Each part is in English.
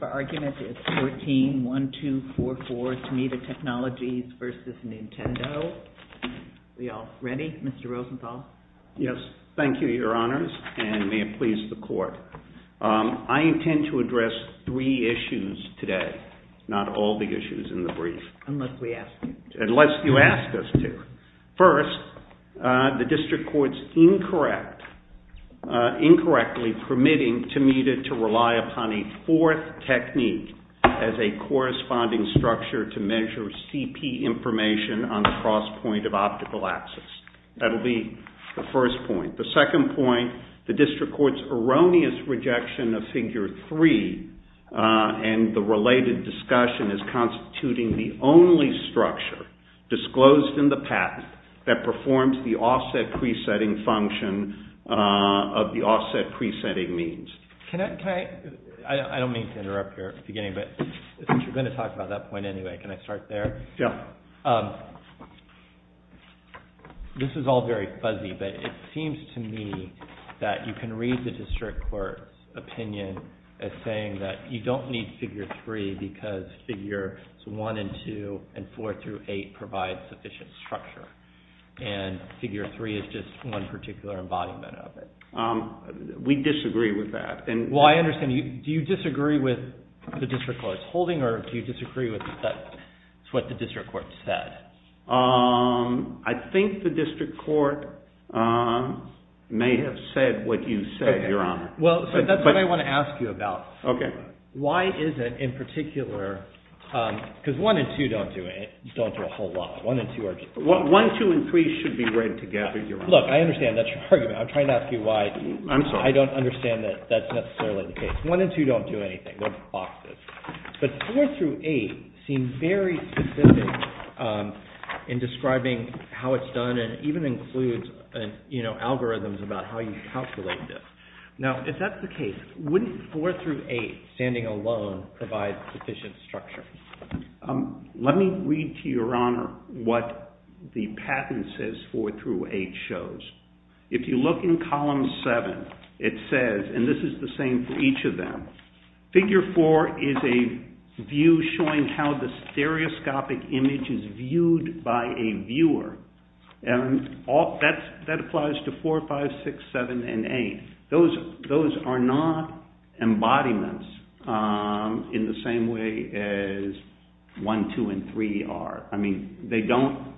The argument is 14-1244 Tomita Technologies v. Nintendo. Are we all ready? Mr. Rosenthal? Yes. Thank you, Your Honors, and may it please the Court. I intend to address three issues today, not all the issues in the brief. Unless we ask you. Unless you ask us to. First, the District Court's incorrectly permitting Tomita to rely upon a fourth technique as a corresponding structure to measure CP information on the cross point of optical access. That will be the first point. The second point, the District Court's erroneous rejection of Figure 3 and the related discussion as constituting the only structure disclosed in the patent that performs the offset pre-setting function of the offset pre-setting means. I don't mean to interrupt you at the beginning, but you're going to talk about that point anyway. Can I start there? Yeah. This is all very fuzzy, but it seems to me that you can read the District Court's opinion as saying that you don't need Figure 3 because Figure 1 and 2 and 4 through 8 provide sufficient structure and Figure 3 is just one particular embodiment of it. We disagree with that. Well, I understand. Do you disagree with the District Court's holding or do you disagree with what the District Court said? I think the District Court may have said what you said, Your Honor. Well, that's what I want to ask you about. Okay. Why is it in particular, because 1 and 2 don't do a whole lot. 1, 2, and 3 should be read together, Your Honor. Look, I understand that's your argument. I'm trying to ask you why I don't understand that that's necessarily the case. 1 and 2 don't do anything. They're boxes. But 4 through 8 seem very specific in describing how it's done and even includes algorithms about how you calculate this. Now, if that's the case, wouldn't 4 through 8 standing alone provide sufficient structure? Let me read to Your Honor what the patent says 4 through 8 shows. If you look in Column 7, it says, and this is the same for each of them, Figure 4 is a view showing how the stereoscopic image is viewed by a viewer. That applies to 4, 5, 6, 7, and 8. Those are not embodiments in the same way as 1, 2, and 3 are. I mean, they don't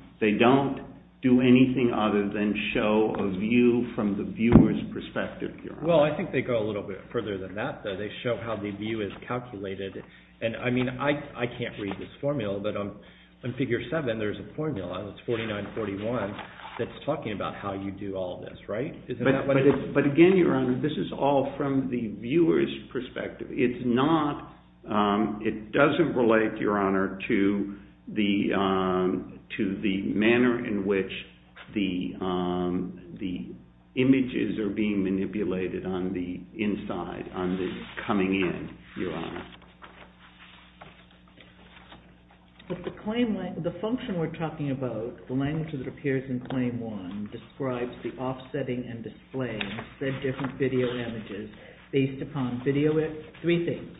do anything other than show a view from the viewer's perspective, Your Honor. Well, I think they go a little bit further than that, though. They show how the view is calculated. I mean, I can't read this formula, but on Figure 7 there's a formula, and it's 49, 41, that's talking about how you do all this, right? But again, Your Honor, this is all from the viewer's perspective. It doesn't relate, Your Honor, to the manner in which the images are being manipulated on the inside, on the coming in, Your Honor. But the function we're talking about, the language that appears in Claim 1, describes the offsetting and displaying of said different video images based upon video image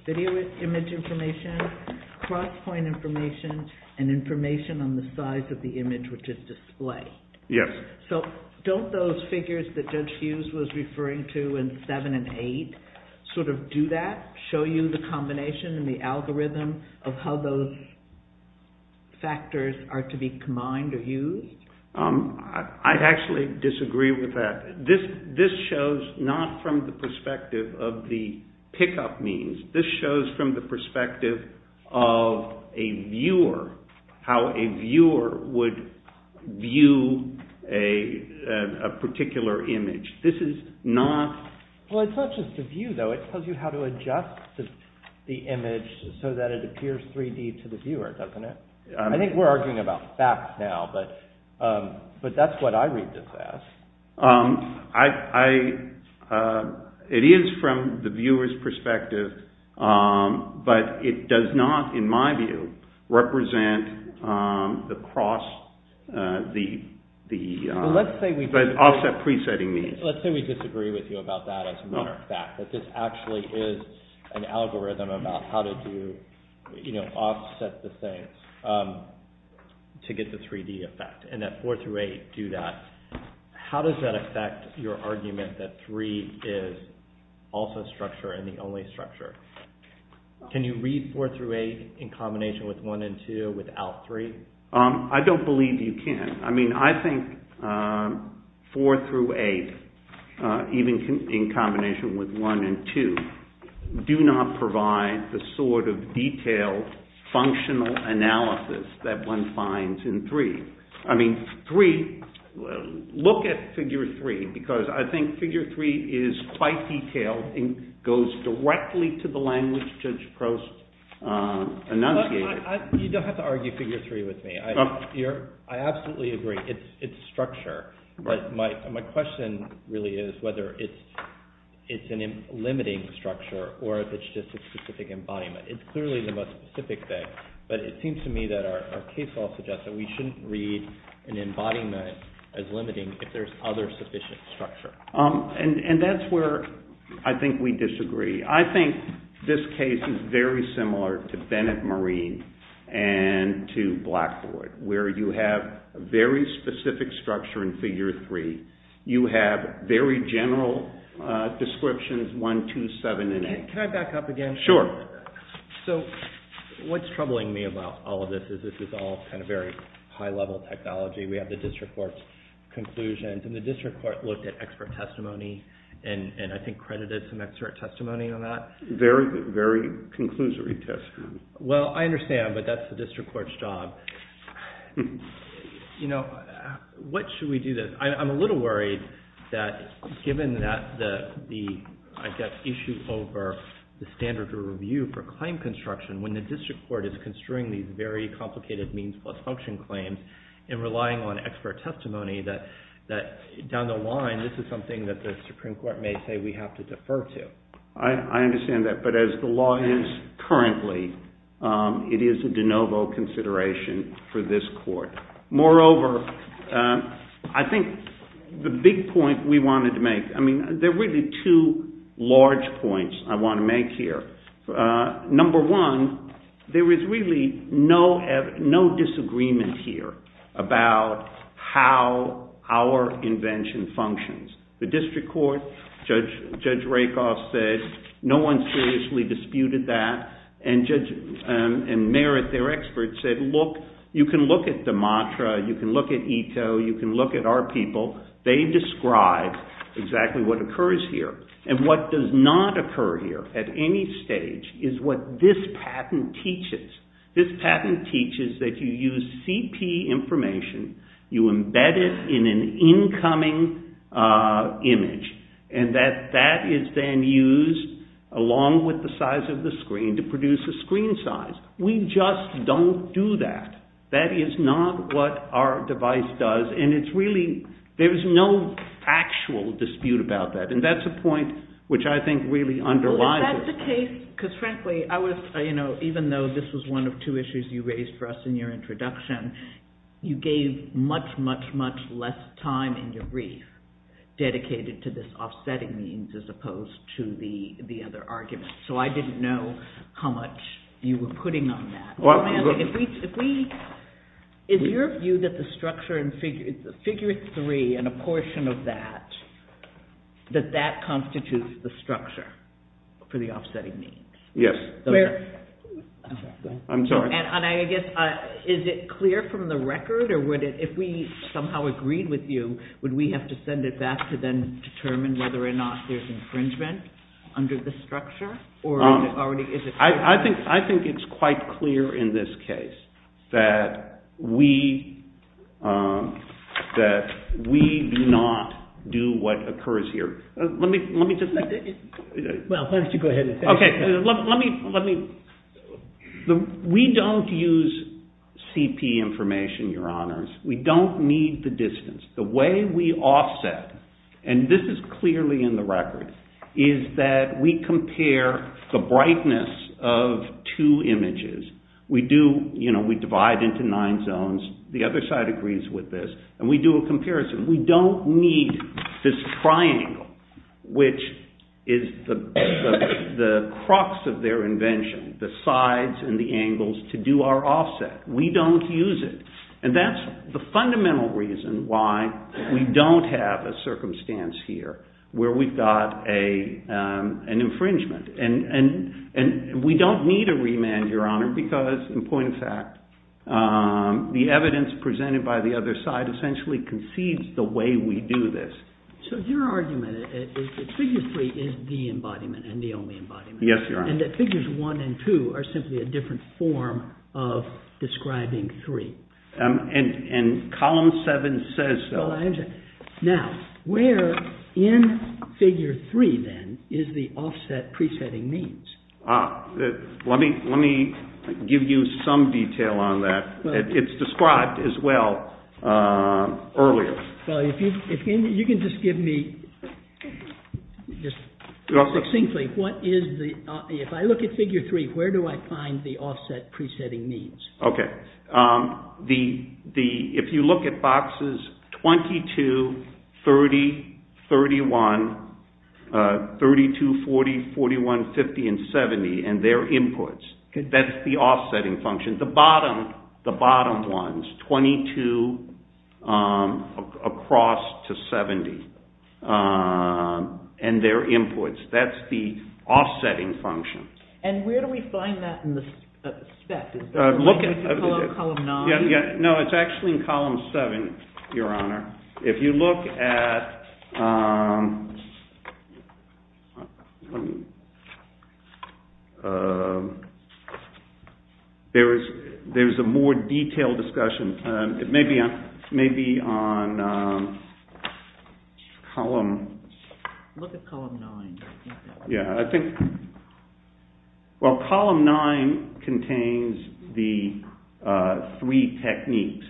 information, cross-point information, and information on the size of the image which is displayed. Yes. So don't those figures that Judge Hughes was referring to in 7 and 8 sort of do that, show you the combination and the algorithm of how those factors are to be combined or used? I actually disagree with that. This shows not from the perspective of the pickup means. This shows from the perspective of a viewer, how a viewer would view a particular image. This is not… Well, it's not just a view, though. It tells you how to adjust the image so that it appears 3D to the viewer, doesn't it? I think we're arguing about facts now, but that's what I read this as. It is from the viewer's perspective, but it does not, in my view, represent the offset pre-setting means. Let's say we disagree with you about that as a matter of fact, that this actually is an algorithm about how to offset the things to get the 3D effect, and that 4 through 8 do that. How does that affect your argument that 3 is also structure and the only structure? Can you read 4 through 8 in combination with 1 and 2 without 3? I don't believe you can. I mean, I think 4 through 8, even in combination with 1 and 2, do not provide the sort of detailed functional analysis that one finds in 3. I mean, 3… Look at figure 3, because I think figure 3 is quite detailed and goes directly to the language Judge Prost enunciated. You don't have to argue figure 3 with me. I absolutely agree. It's structure. My question really is whether it's a limiting structure or if it's just a specific embodiment. It's clearly the most specific thing, but it seems to me that our case law suggests that we shouldn't read an embodiment as limiting if there's other sufficient structure. And that's where I think we disagree. I think this case is very similar to Bennett-Marine and to Blackboard, where you have a very specific structure in figure 3. You have very general descriptions, 1, 2, 7, and 8. Can I back up again? Sure. So what's troubling me about all of this is this is all kind of very high-level technology. We have the district court's conclusions, and the district court looked at expert testimony and I think credited some expert testimony on that. Very conclusory testimony. Well, I understand, but that's the district court's job. You know, what should we do? I'm a little worried that given that the issue over the standard to review for claim construction, when the district court is construing these very complicated means plus function claims and relying on expert testimony, that down the line, this is something that the Supreme Court may say we have to defer to. I understand that, but as the law is currently, it is a de novo consideration for this court. Moreover, I think the big point we wanted to make, I mean, there are really two large points I want to make here. Number one, there is really no disagreement here about how our invention functions. The district court, Judge Rakoff said, no one seriously disputed that, and Merritt, their expert, said, look, you can look at the mantra, you can look at Ito, you can look at our people, they describe exactly what occurs here. And what does not occur here at any stage is what this patent teaches. This patent teaches that you use CP information, you embed it in an incoming image, and that that is then used along with the size of the screen to produce a screen size. We just don't do that. That is not what our device does, and it's really, there's no factual dispute about that, and that's a point which I think really underlies it. Because frankly, I was, you know, even though this was one of two issues you raised for us in your introduction, you gave much, much, much less time in your brief dedicated to this offsetting means as opposed to the other argument. So I didn't know how much you were putting on that. If we, is your view that the structure and figure three and a portion of that, that that constitutes the structure for the offsetting means? Yes. I'm sorry. And I guess, is it clear from the record, or would it, if we somehow agreed with you, would we have to send it back to then determine whether or not there's infringement under the structure? I think it's quite clear in this case that we, that we do not do what occurs here. Let me, let me just. Well, why don't you go ahead and say it. Okay, let me, let me. We don't use CP information, your honors. We don't need the distance. The way we offset, and this is clearly in the record, is that we compare the brightness of two images. We do, you know, we divide into nine zones. The other side agrees with this. And we do a comparison. We don't need this triangle, which is the crux of their invention, the sides and the angles to do our offset. We don't use it. And that's the fundamental reason why we don't have a circumstance here where we've got an infringement. And we don't need a remand, your honor, because, in point of fact, the evidence presented by the other side essentially concedes the way we do this. So your argument is that figure three is the embodiment and the only embodiment. Yes, your honor. And that figures one and two are simply a different form of describing three. And column seven says so. Now, where in figure three, then, is the offset pre-setting means? Let me give you some detail on that. It's described as well earlier. You can just give me, succinctly, if I look at figure three, where do I find the offset pre-setting means? Okay. If you look at boxes 22, 30, 31, 32, 40, 41, 50, and 70 and their inputs, that's the offsetting function. And the bottom ones, 22 across to 70 and their inputs, that's the offsetting function. And where do we find that in the spec? Is it in column nine? No, it's actually in column seven, your honor. If you look at – there's a more detailed discussion. It may be on column – Look at column nine. Yeah, I think – well, column nine contains the three techniques.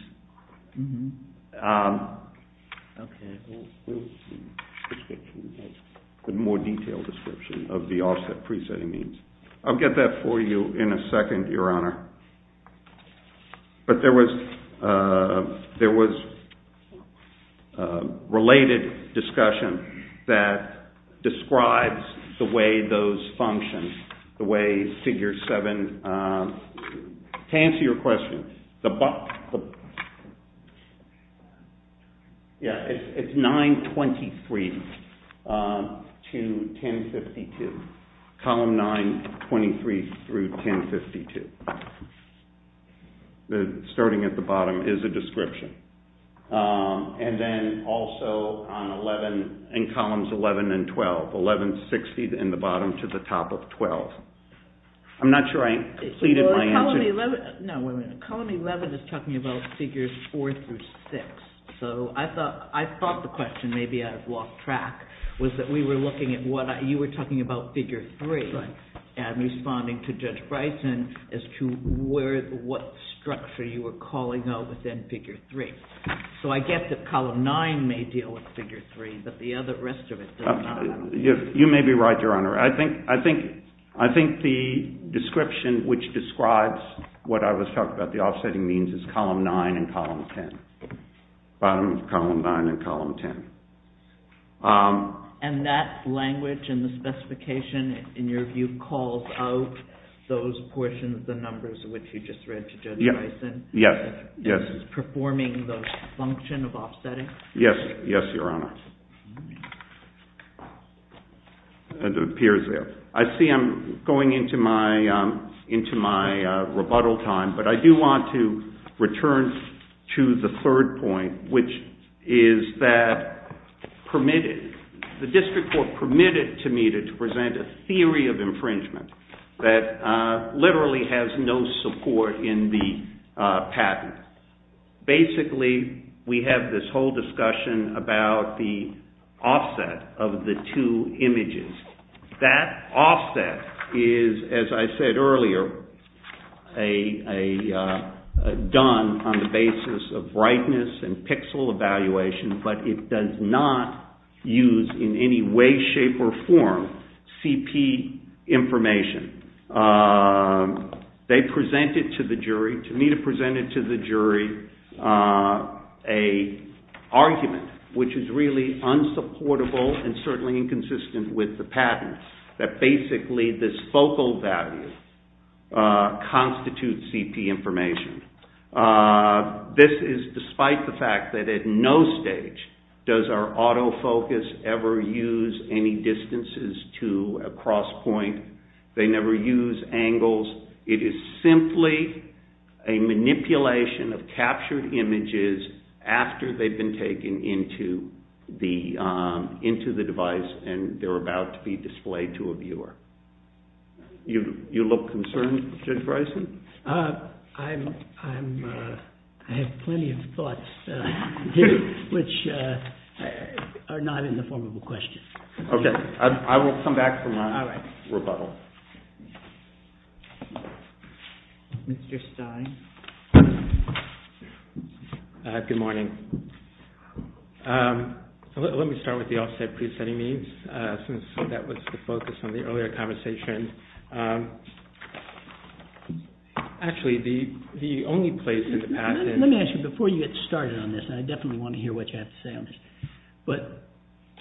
Okay. The more detailed description of the offset pre-setting means. I'll get that for you in a second, your honor. But there was related discussion that describes the way those function, the way figure seven – To answer your question, it's 923 to 1052, column 923 through 1052. Starting at the bottom is a description. And then also on 11, in columns 11 and 12, 1160 in the bottom to the top of 12. I'm not sure I completed my answer. No, wait a minute. Column 11 is talking about figures four through six. So I thought the question, maybe I've lost track, was that we were looking at what – you were talking about figure three. Right. And responding to Judge Bryson as to what structure you were calling out within figure three. So I get that column nine may deal with figure three, but the rest of it doesn't. You may be right, your honor. I think the description which describes what I was talking about, the offsetting means, is column nine and column 10. Bottom of column nine and column 10. And that language and the specification, in your view, calls out those portions of the numbers which you just read to Judge Bryson? Yes. It's performing the function of offsetting? Yes, your honor. It appears there. I see I'm going into my rebuttal time, but I do want to return to the third point, which is that permitted – the district court permitted to me to present a theory of infringement that literally has no support in the patent. Basically, we have this whole discussion about the offset of the two images. That offset is, as I said earlier, done on the basis of brightness and pixel evaluation, but it does not use in any way, shape, or form CP information. They presented to the jury, to me to present it to the jury, an argument which is really unsupportable and certainly inconsistent with the patent, that basically this focal value constitutes CP information. This is despite the fact that at no stage does our autofocus ever use any distances to a cross point. They never use angles. It is simply a manipulation of captured images after they've been taken into the device, and they're about to be displayed to a viewer. You look concerned, Judge Bryson? I have plenty of thoughts, which are not in the form of a question. Okay, I will come back for my rebuttal. Mr. Stein? Good morning. Let me start with the offset pre-setting means, since that was the focus of the earlier conversation. Actually, the only place in the patent… Let me ask you, before you get started on this, and I definitely want to hear what you have to say on this, but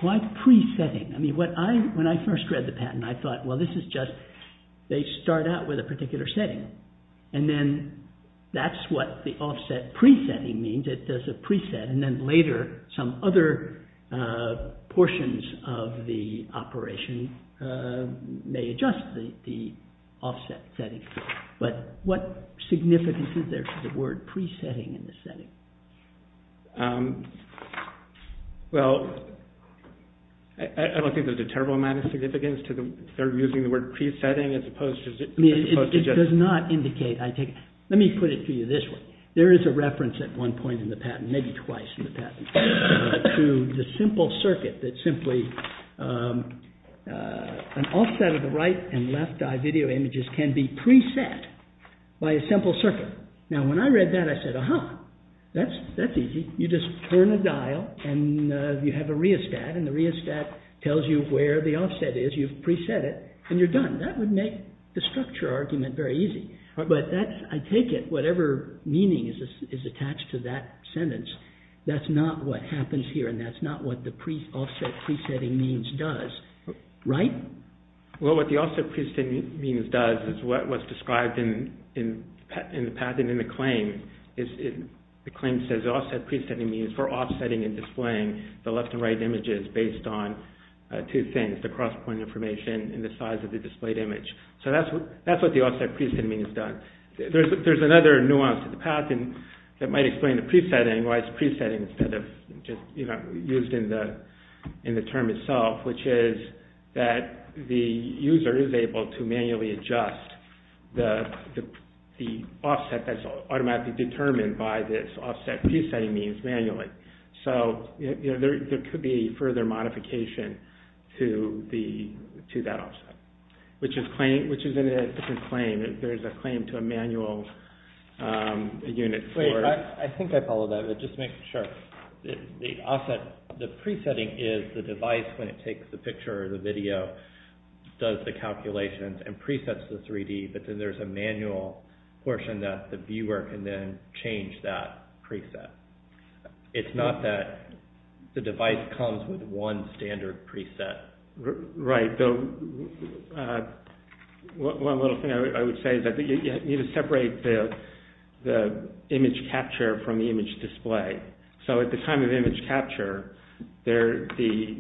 what pre-setting? I mean, when I first read the patent, I thought, well, this is just, they start out with a particular setting, and then that's what the offset pre-setting means. It does a pre-set, and then later some other portions of the operation may adjust the offset setting. But what significance is there to the word pre-setting in the setting? Well, I don't think there's a terrible amount of significance to using the word pre-setting as opposed to… I mean, it does not indicate… Let me put it to you this way. There is a reference at one point in the patent, maybe twice in the patent, to the simple circuit that simply… An offset of the right and left eye video images can be pre-set by a simple circuit. Now, when I read that, I said, aha, that's easy. You just turn a dial, and you have a rheostat, and the rheostat tells you where the offset is. You've pre-set it, and you're done. That would make the structure argument very easy. But I take it whatever meaning is attached to that sentence, that's not what happens here, and that's not what the offset pre-setting means does, right? Well, what the offset pre-setting means does is what was described in the patent, in the claim. The claim says the offset pre-setting means for offsetting and displaying the left and right images based on two things, the cross-point information and the size of the displayed image. So that's what the offset pre-setting means does. There's another nuance to the patent that might explain the pre-setting, why it's pre-setting instead of just used in the term itself, which is that the user is able to manually adjust the offset that's automatically determined by this offset pre-setting means manually. So there could be further modification to that offset, which is in a different claim. There's a claim to a manual unit for... that takes the picture or the video, does the calculations and pre-sets the 3D, but then there's a manual portion that the viewer can then change that pre-set. It's not that the device comes with one standard pre-set. Right. One little thing I would say is that you need to separate the image capture from the image display. So at the time of image capture, you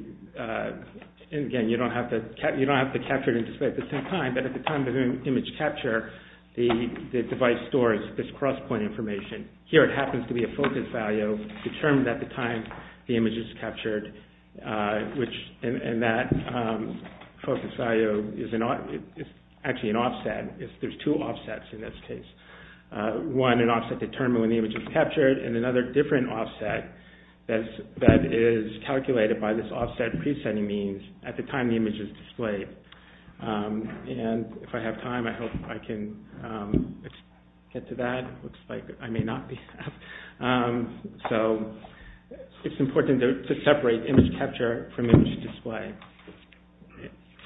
don't have to capture and display at the same time, but at the time of image capture, the device stores this cross-point information. Here it happens to be a focus value determined at the time the image is captured, and that focus value is actually an offset. There's two offsets in this case. One, an offset determined when the image is captured, and another different offset that is calculated by this offset pre-setting means at the time the image is displayed. If I have time, I hope I can get to that. It looks like I may not be able to. So it's important to separate image capture from image display.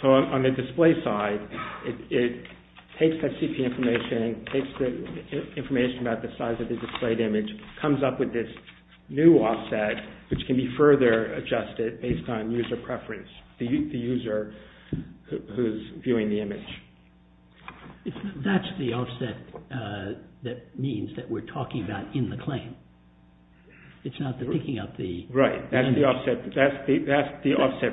So on the display side, it takes that CP information, takes the information about the size of the displayed image, comes up with this new offset, which can be further adjusted based on user preference, the user who's viewing the image. That's the offset that means that we're talking about in the claim. It's not the picking up the image. Right, that's the offset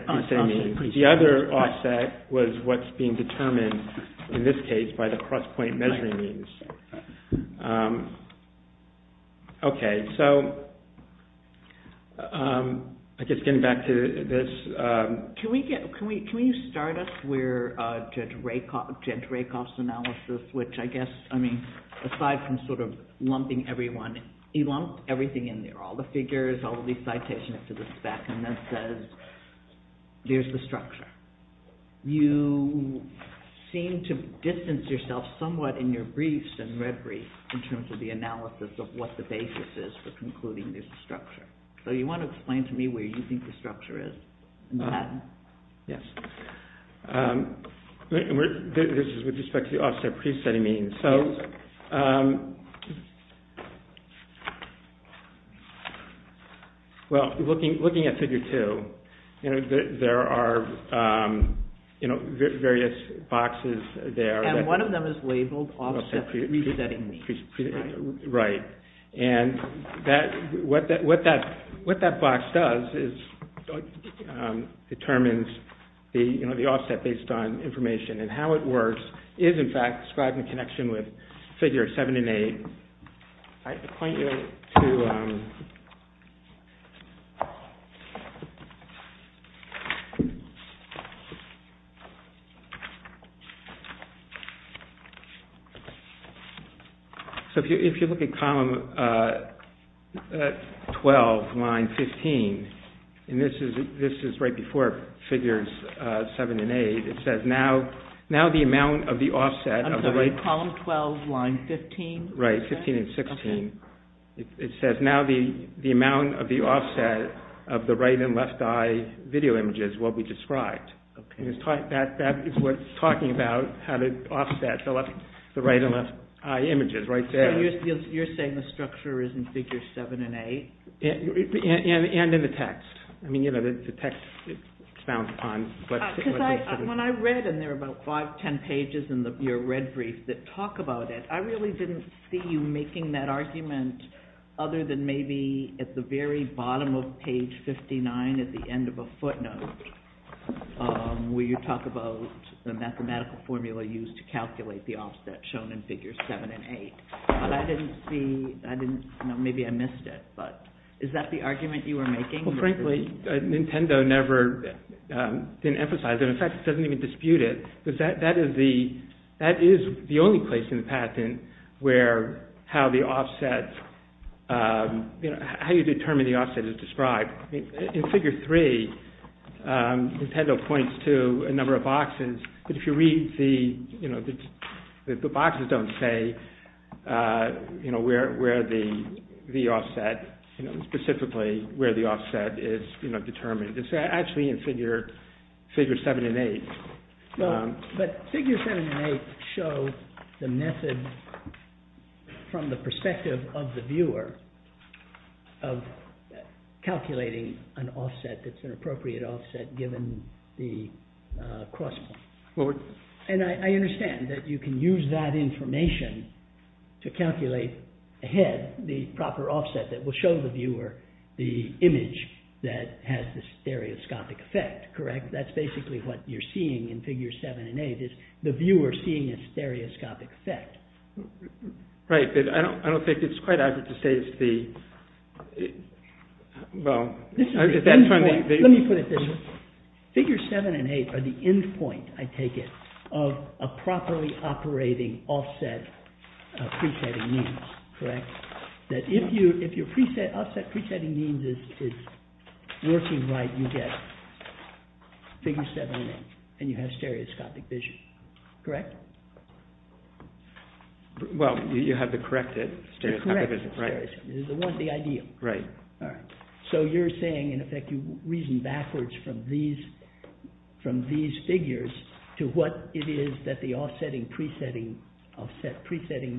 pre-setting. The other offset was what's being determined in this case by the cross-point measuring means. Okay, so I guess getting back to this. Can you start us where Judge Rakoff's analysis, which I guess, I mean, aside from sort of lumping everyone, he lumped everything in there, all the figures, all the citations to the spec, and then says, there's the structure. You seem to distance yourself somewhat in your briefs and red briefs in terms of the analysis of what the basis is for concluding there's a structure. So you want to explain to me where you think the structure is in that? Yes. This is with respect to the offset pre-setting means. So, well, looking at figure two, there are various boxes there. And one of them is labeled offset pre-setting means. Right. And what that box does is determines the offset based on information. And how it works is, in fact, described in connection with figure seven and eight. So if you look at column 12, line 15, and this is right before figures seven and eight, it says, now the amount of the offset of the right... I'm sorry, column 12, line 15? Right, 15 and 16. It says, now the amount of the offset of the right and left eye video images will be described. That is what's talking about how to offset the right and left eye images right there. So you're saying the structure is in figure seven and eight? And in the text. I mean, you know, the text, it's found upon... Because when I read, and there are about five, ten pages in your red brief that talk about it, I really didn't see you making that argument other than maybe at the very bottom of page 59 at the end of a footnote where you talk about the mathematical formula used to calculate the offset shown in figures seven and eight. But I didn't see... Maybe I missed it, but is that the argument you were making? Well, frankly, Nintendo never emphasized it. In fact, it doesn't even dispute it. That is the only place in the patent where how you determine the offset is described. In figure three, Nintendo points to a number of boxes, but if you read, the boxes don't say where the offset, specifically where the offset is determined. It's actually in figure seven and eight. But figure seven and eight show the method from the perspective of the viewer of calculating an offset that's an appropriate offset given the cross point. And I understand that you can use that information to calculate ahead the proper offset that will show the viewer the image that has the stereoscopic effect, correct? That's basically what you're seeing in figure seven and eight is the viewer seeing a stereoscopic effect. Right, but I don't think it's quite accurate to say it's the... Well... Let me put it this way. Figure seven and eight are the end point, I take it, of a properly operating offset pre-setting means, correct? That if your offset pre-setting means is working right, you get figure seven and eight, and you have stereoscopic vision, correct? Well, you have the corrected stereoscopic vision. The corrected stereoscopic vision, the ideal. Right. So you're saying, in effect, you reason backwards from these figures to what it is that the offset pre-setting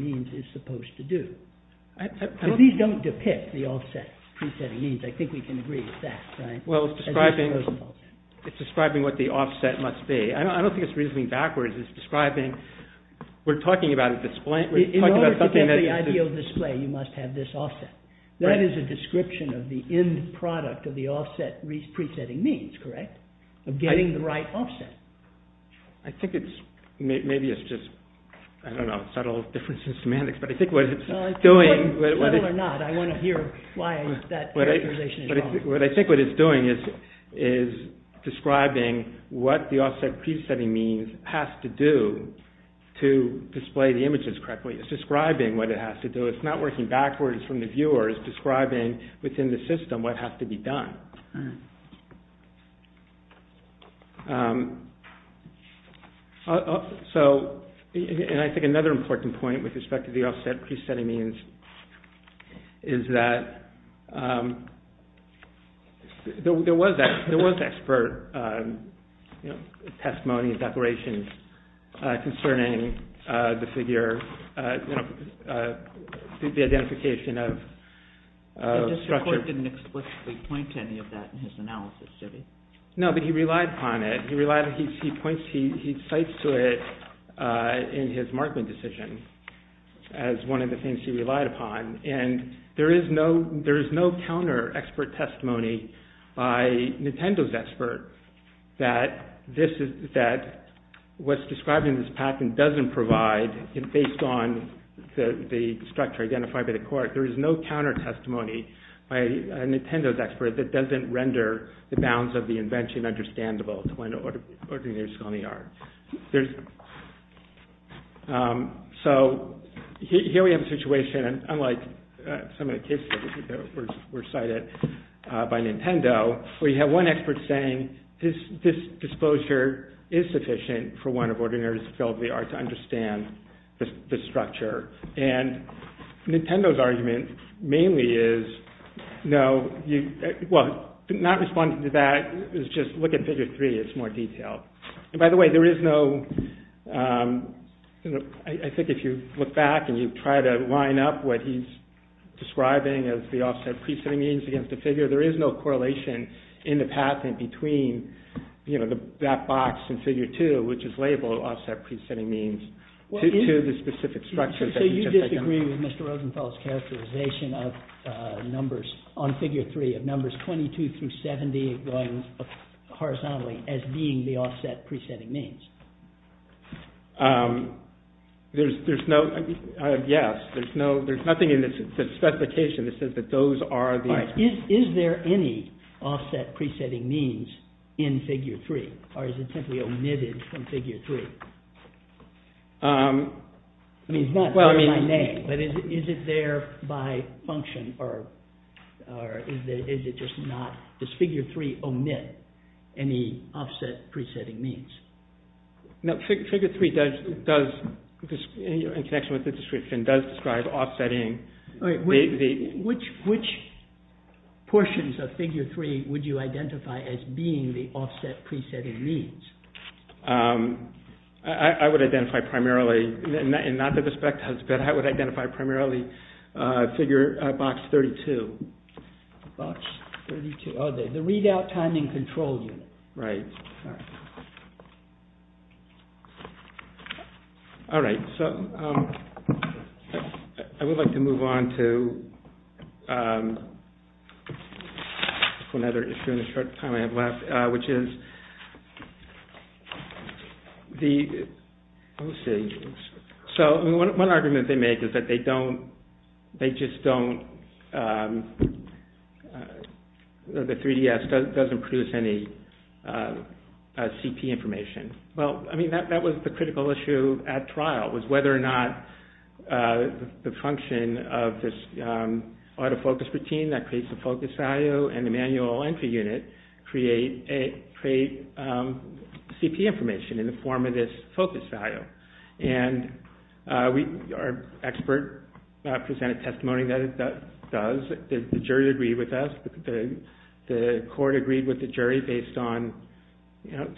means is supposed to do. These don't depict the offset pre-setting means. I think we can agree with that, right? Well, it's describing what the offset must be. I don't think it's reasoning backwards. It's describing... We're talking about a display... In order to get the ideal display, you must have this offset. That is a description of the end product of the offset pre-setting means, correct? Of getting the right offset. I think it's... Maybe it's just, I don't know, subtle differences in semantics, but I think what it's doing... Subtle or not, I want to hear why that characterization is wrong. But I think what it's doing is describing what the offset pre-setting means has to do to display the images correctly. It's describing what it has to do. It's not working backwards from the viewer. It's describing within the system what has to be done. So, and I think another important point with respect to the offset pre-setting means is that there was expert testimony and declarations concerning the figure, the identification of structure... The court didn't explicitly point to any of that in his analysis, did he? No, but he relied upon it. He cites it in his Markman decision as one of the things he relied upon. And there is no counter-expert testimony by Nintendo's expert that what's described in this patent doesn't provide, based on the structure identified by the court, there is no counter-testimony by Nintendo's expert that doesn't render the bounds of the invention understandable to an ordinary disability art. So, here we have a situation, unlike some of the cases that were cited by Nintendo, where you have one expert saying this disclosure is sufficient for one of ordinary disability art to understand the structure. And Nintendo's argument mainly is, no, not responding to that is just look at figure 3, it's more detailed. And by the way, there is no... I think if you look back and you try to line up what he's describing as the offset pre-setting means against the figure, there is no correlation in the patent between that box in figure 2, which is labeled offset pre-setting means, to the specific structure. So you disagree with Mr. Rosenthal's characterization of numbers, on figure 3, of numbers 22 through 70 going horizontally as being the offset pre-setting means? There's no... yes, there's nothing in the specification that says that those are the... Is there any offset pre-setting means in figure 3? Or is it simply omitted from figure 3? I mean, it's not by name, but is it there by function, or is it just not... Does figure 3 omit any offset pre-setting means? No, figure 3 does, in connection with the description, does describe offsetting... Which portions of figure 3 would you identify as being the offset pre-setting means? I would identify primarily... Not that the spec has been... I would identify primarily figure box 32. Box 32. Oh, the readout timing control unit. Right. All right, so I would like to move on to... One other issue in the short time I have left, which is... So, one argument they make is that they don't... They just don't... The 3DS doesn't produce any CP information. Well, I mean, that was the critical issue at trial, was whether or not the function of this autofocus routine that creates the focus value and the manual entry unit create CP information in the form of this focus value. And our expert presented testimony that it does. The jury agreed with us. The court agreed with the jury based on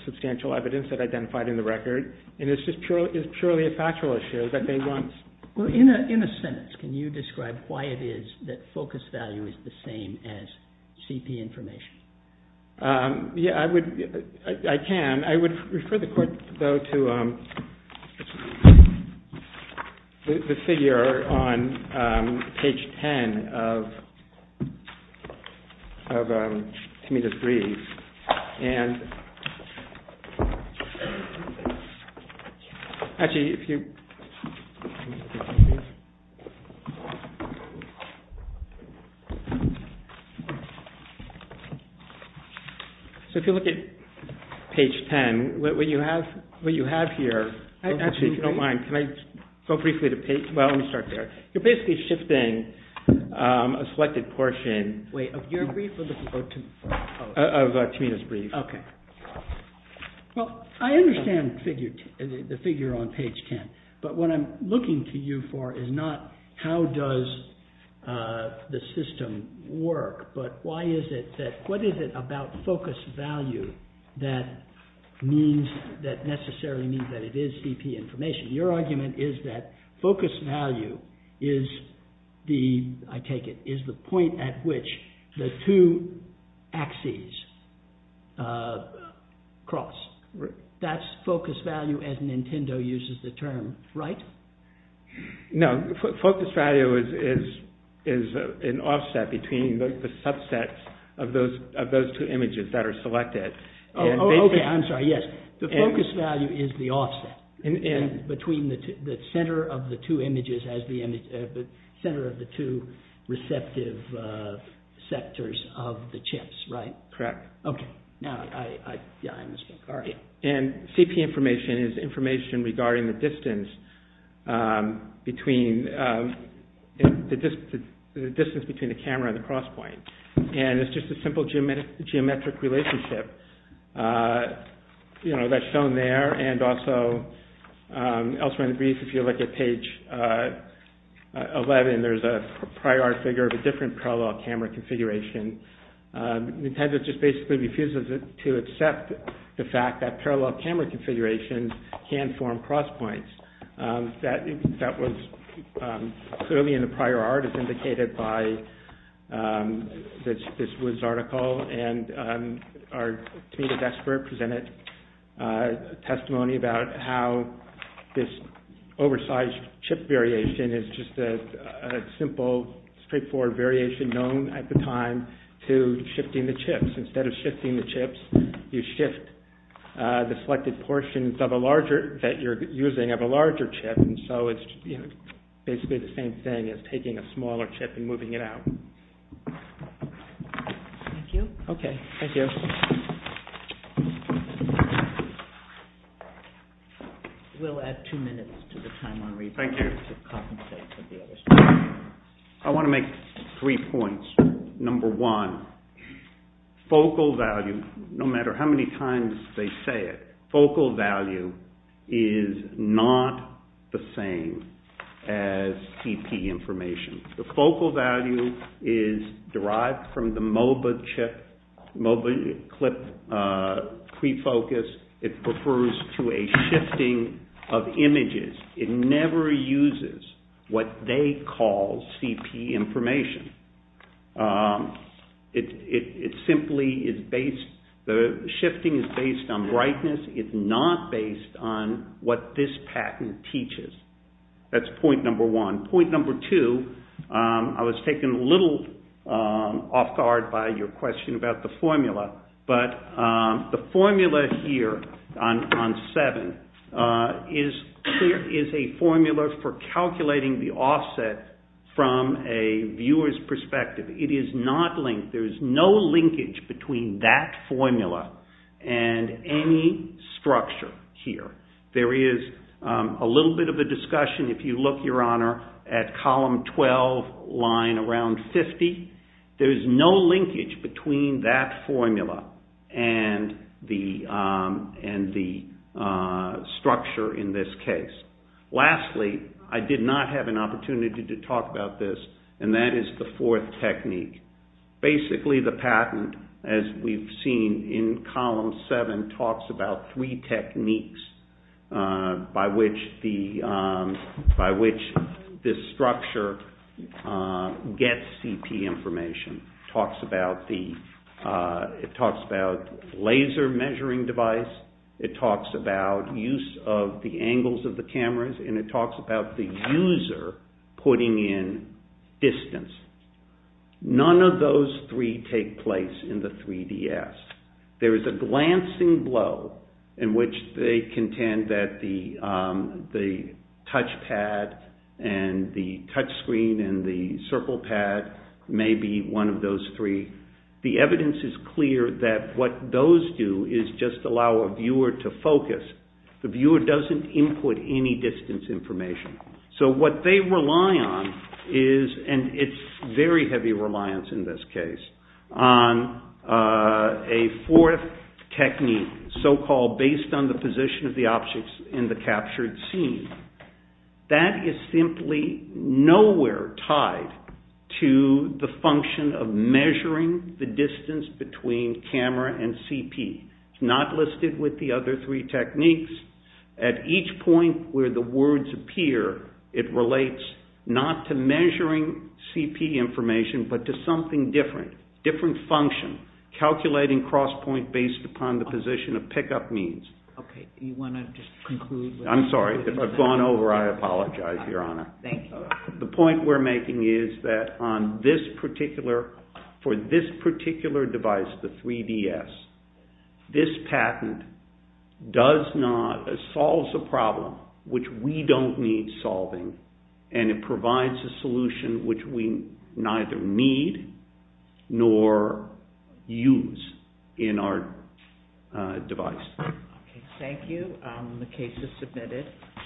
substantial evidence that identified in the record. And it's just purely a factual issue that they want. Well, in a sentence, can you describe why it is that focus value is the same as CP information? Yeah, I would... I can. I would refer the court, though, to... the figure on page 10 of Tamita's brief. And... Actually, if you... So, if you look at page 10, what you have here... Actually, if you don't mind, can I go briefly to page... Well, let me start there. You're basically shifting a selected portion... Wait, of your brief or the Tamita's brief? Of Tamita's brief. OK. Well, I understand the figure on page 10, but what I'm looking to you for is not how does... the system work, but why is it that... What is it about focus value that means... that necessarily means that it is CP information? Your argument is that focus value is the... I take it, is the point at which the two axes cross. That's focus value as Nintendo uses the term, right? No, focus value is an offset between the subsets of those two images that are selected. Oh, OK, I'm sorry, yes. The focus value is the offset between the center of the two images as the image... center of the two receptive sectors of the chips, right? Correct. OK. Now, I... Sorry. And CP information is information regarding the distance between... the distance between the camera and the cross point. And it's just a simple geometric relationship that's shown there and also elsewhere in the brief. If you look at page 11, there's a prior figure of a different parallel camera configuration. Nintendo just basically refuses to accept the fact that parallel camera configurations can form cross points. That was clearly in the prior art as indicated by this Woods article. And our Tameda expert presented testimony about how this oversized chip variation is just a simple straightforward variation known at the time to shifting the chips. Instead of shifting the chips, you shift the selected portions of a larger... that you're using of a larger chip. And so it's basically the same thing as taking a smaller chip and moving it out. Thank you. OK, thank you. We'll add two minutes to the time on reasons... Thank you. ...to compensate for the other stuff. I want to make three points. Number one, focal value, no matter how many times they say it, focal value is not the same as TP information. The focal value is derived from the MOBA chip, MOBA clip pre-focus. It refers to a shifting of images. It never uses what they call CP information. It simply is based... the shifting is based on brightness. It's not based on what this patent teaches. That's point number one. Point number two, I was taken a little off guard by your question about the formula, but the formula here on seven is a formula for calculating the offset from a viewer's perspective. It is not linked. There is no linkage between that formula and any structure here. There is a little bit of a discussion. If you look, Your Honor, there is no linkage between that formula and the structure in this case. Lastly, I did not have an opportunity to talk about this, and that is the fourth technique. Basically, the patent, as we've seen in column seven, talks about three techniques by which this structure gets CP information. It talks about laser measuring device. It talks about use of the angles of the cameras, and it talks about the user putting in distance. None of those three take place in the 3DS. There is a glancing blow in which they contend that the touchpad and the touchscreen and the circle pad may be one of those three. The evidence is clear that what those do is just allow a viewer to focus. The viewer doesn't input any distance information. So what they rely on is, and it's very heavy reliance in this case, on a fourth technique, so-called based on the position of the objects in the captured scene. That is simply nowhere tied to the function of measuring the distance between camera and CP. It's not listed with the other three techniques. At each point where the words appear, it relates not to measuring CP information but to something different, different function, calculating cross-point based upon the position of pickup means. I'm sorry. If I've gone over, I apologize, Your Honor. The point we're making is that for this particular device, the 3DS, this patent solves a problem which we don't need solving, and it provides a solution which we neither need nor use in our device. Thank you. The case is submitted.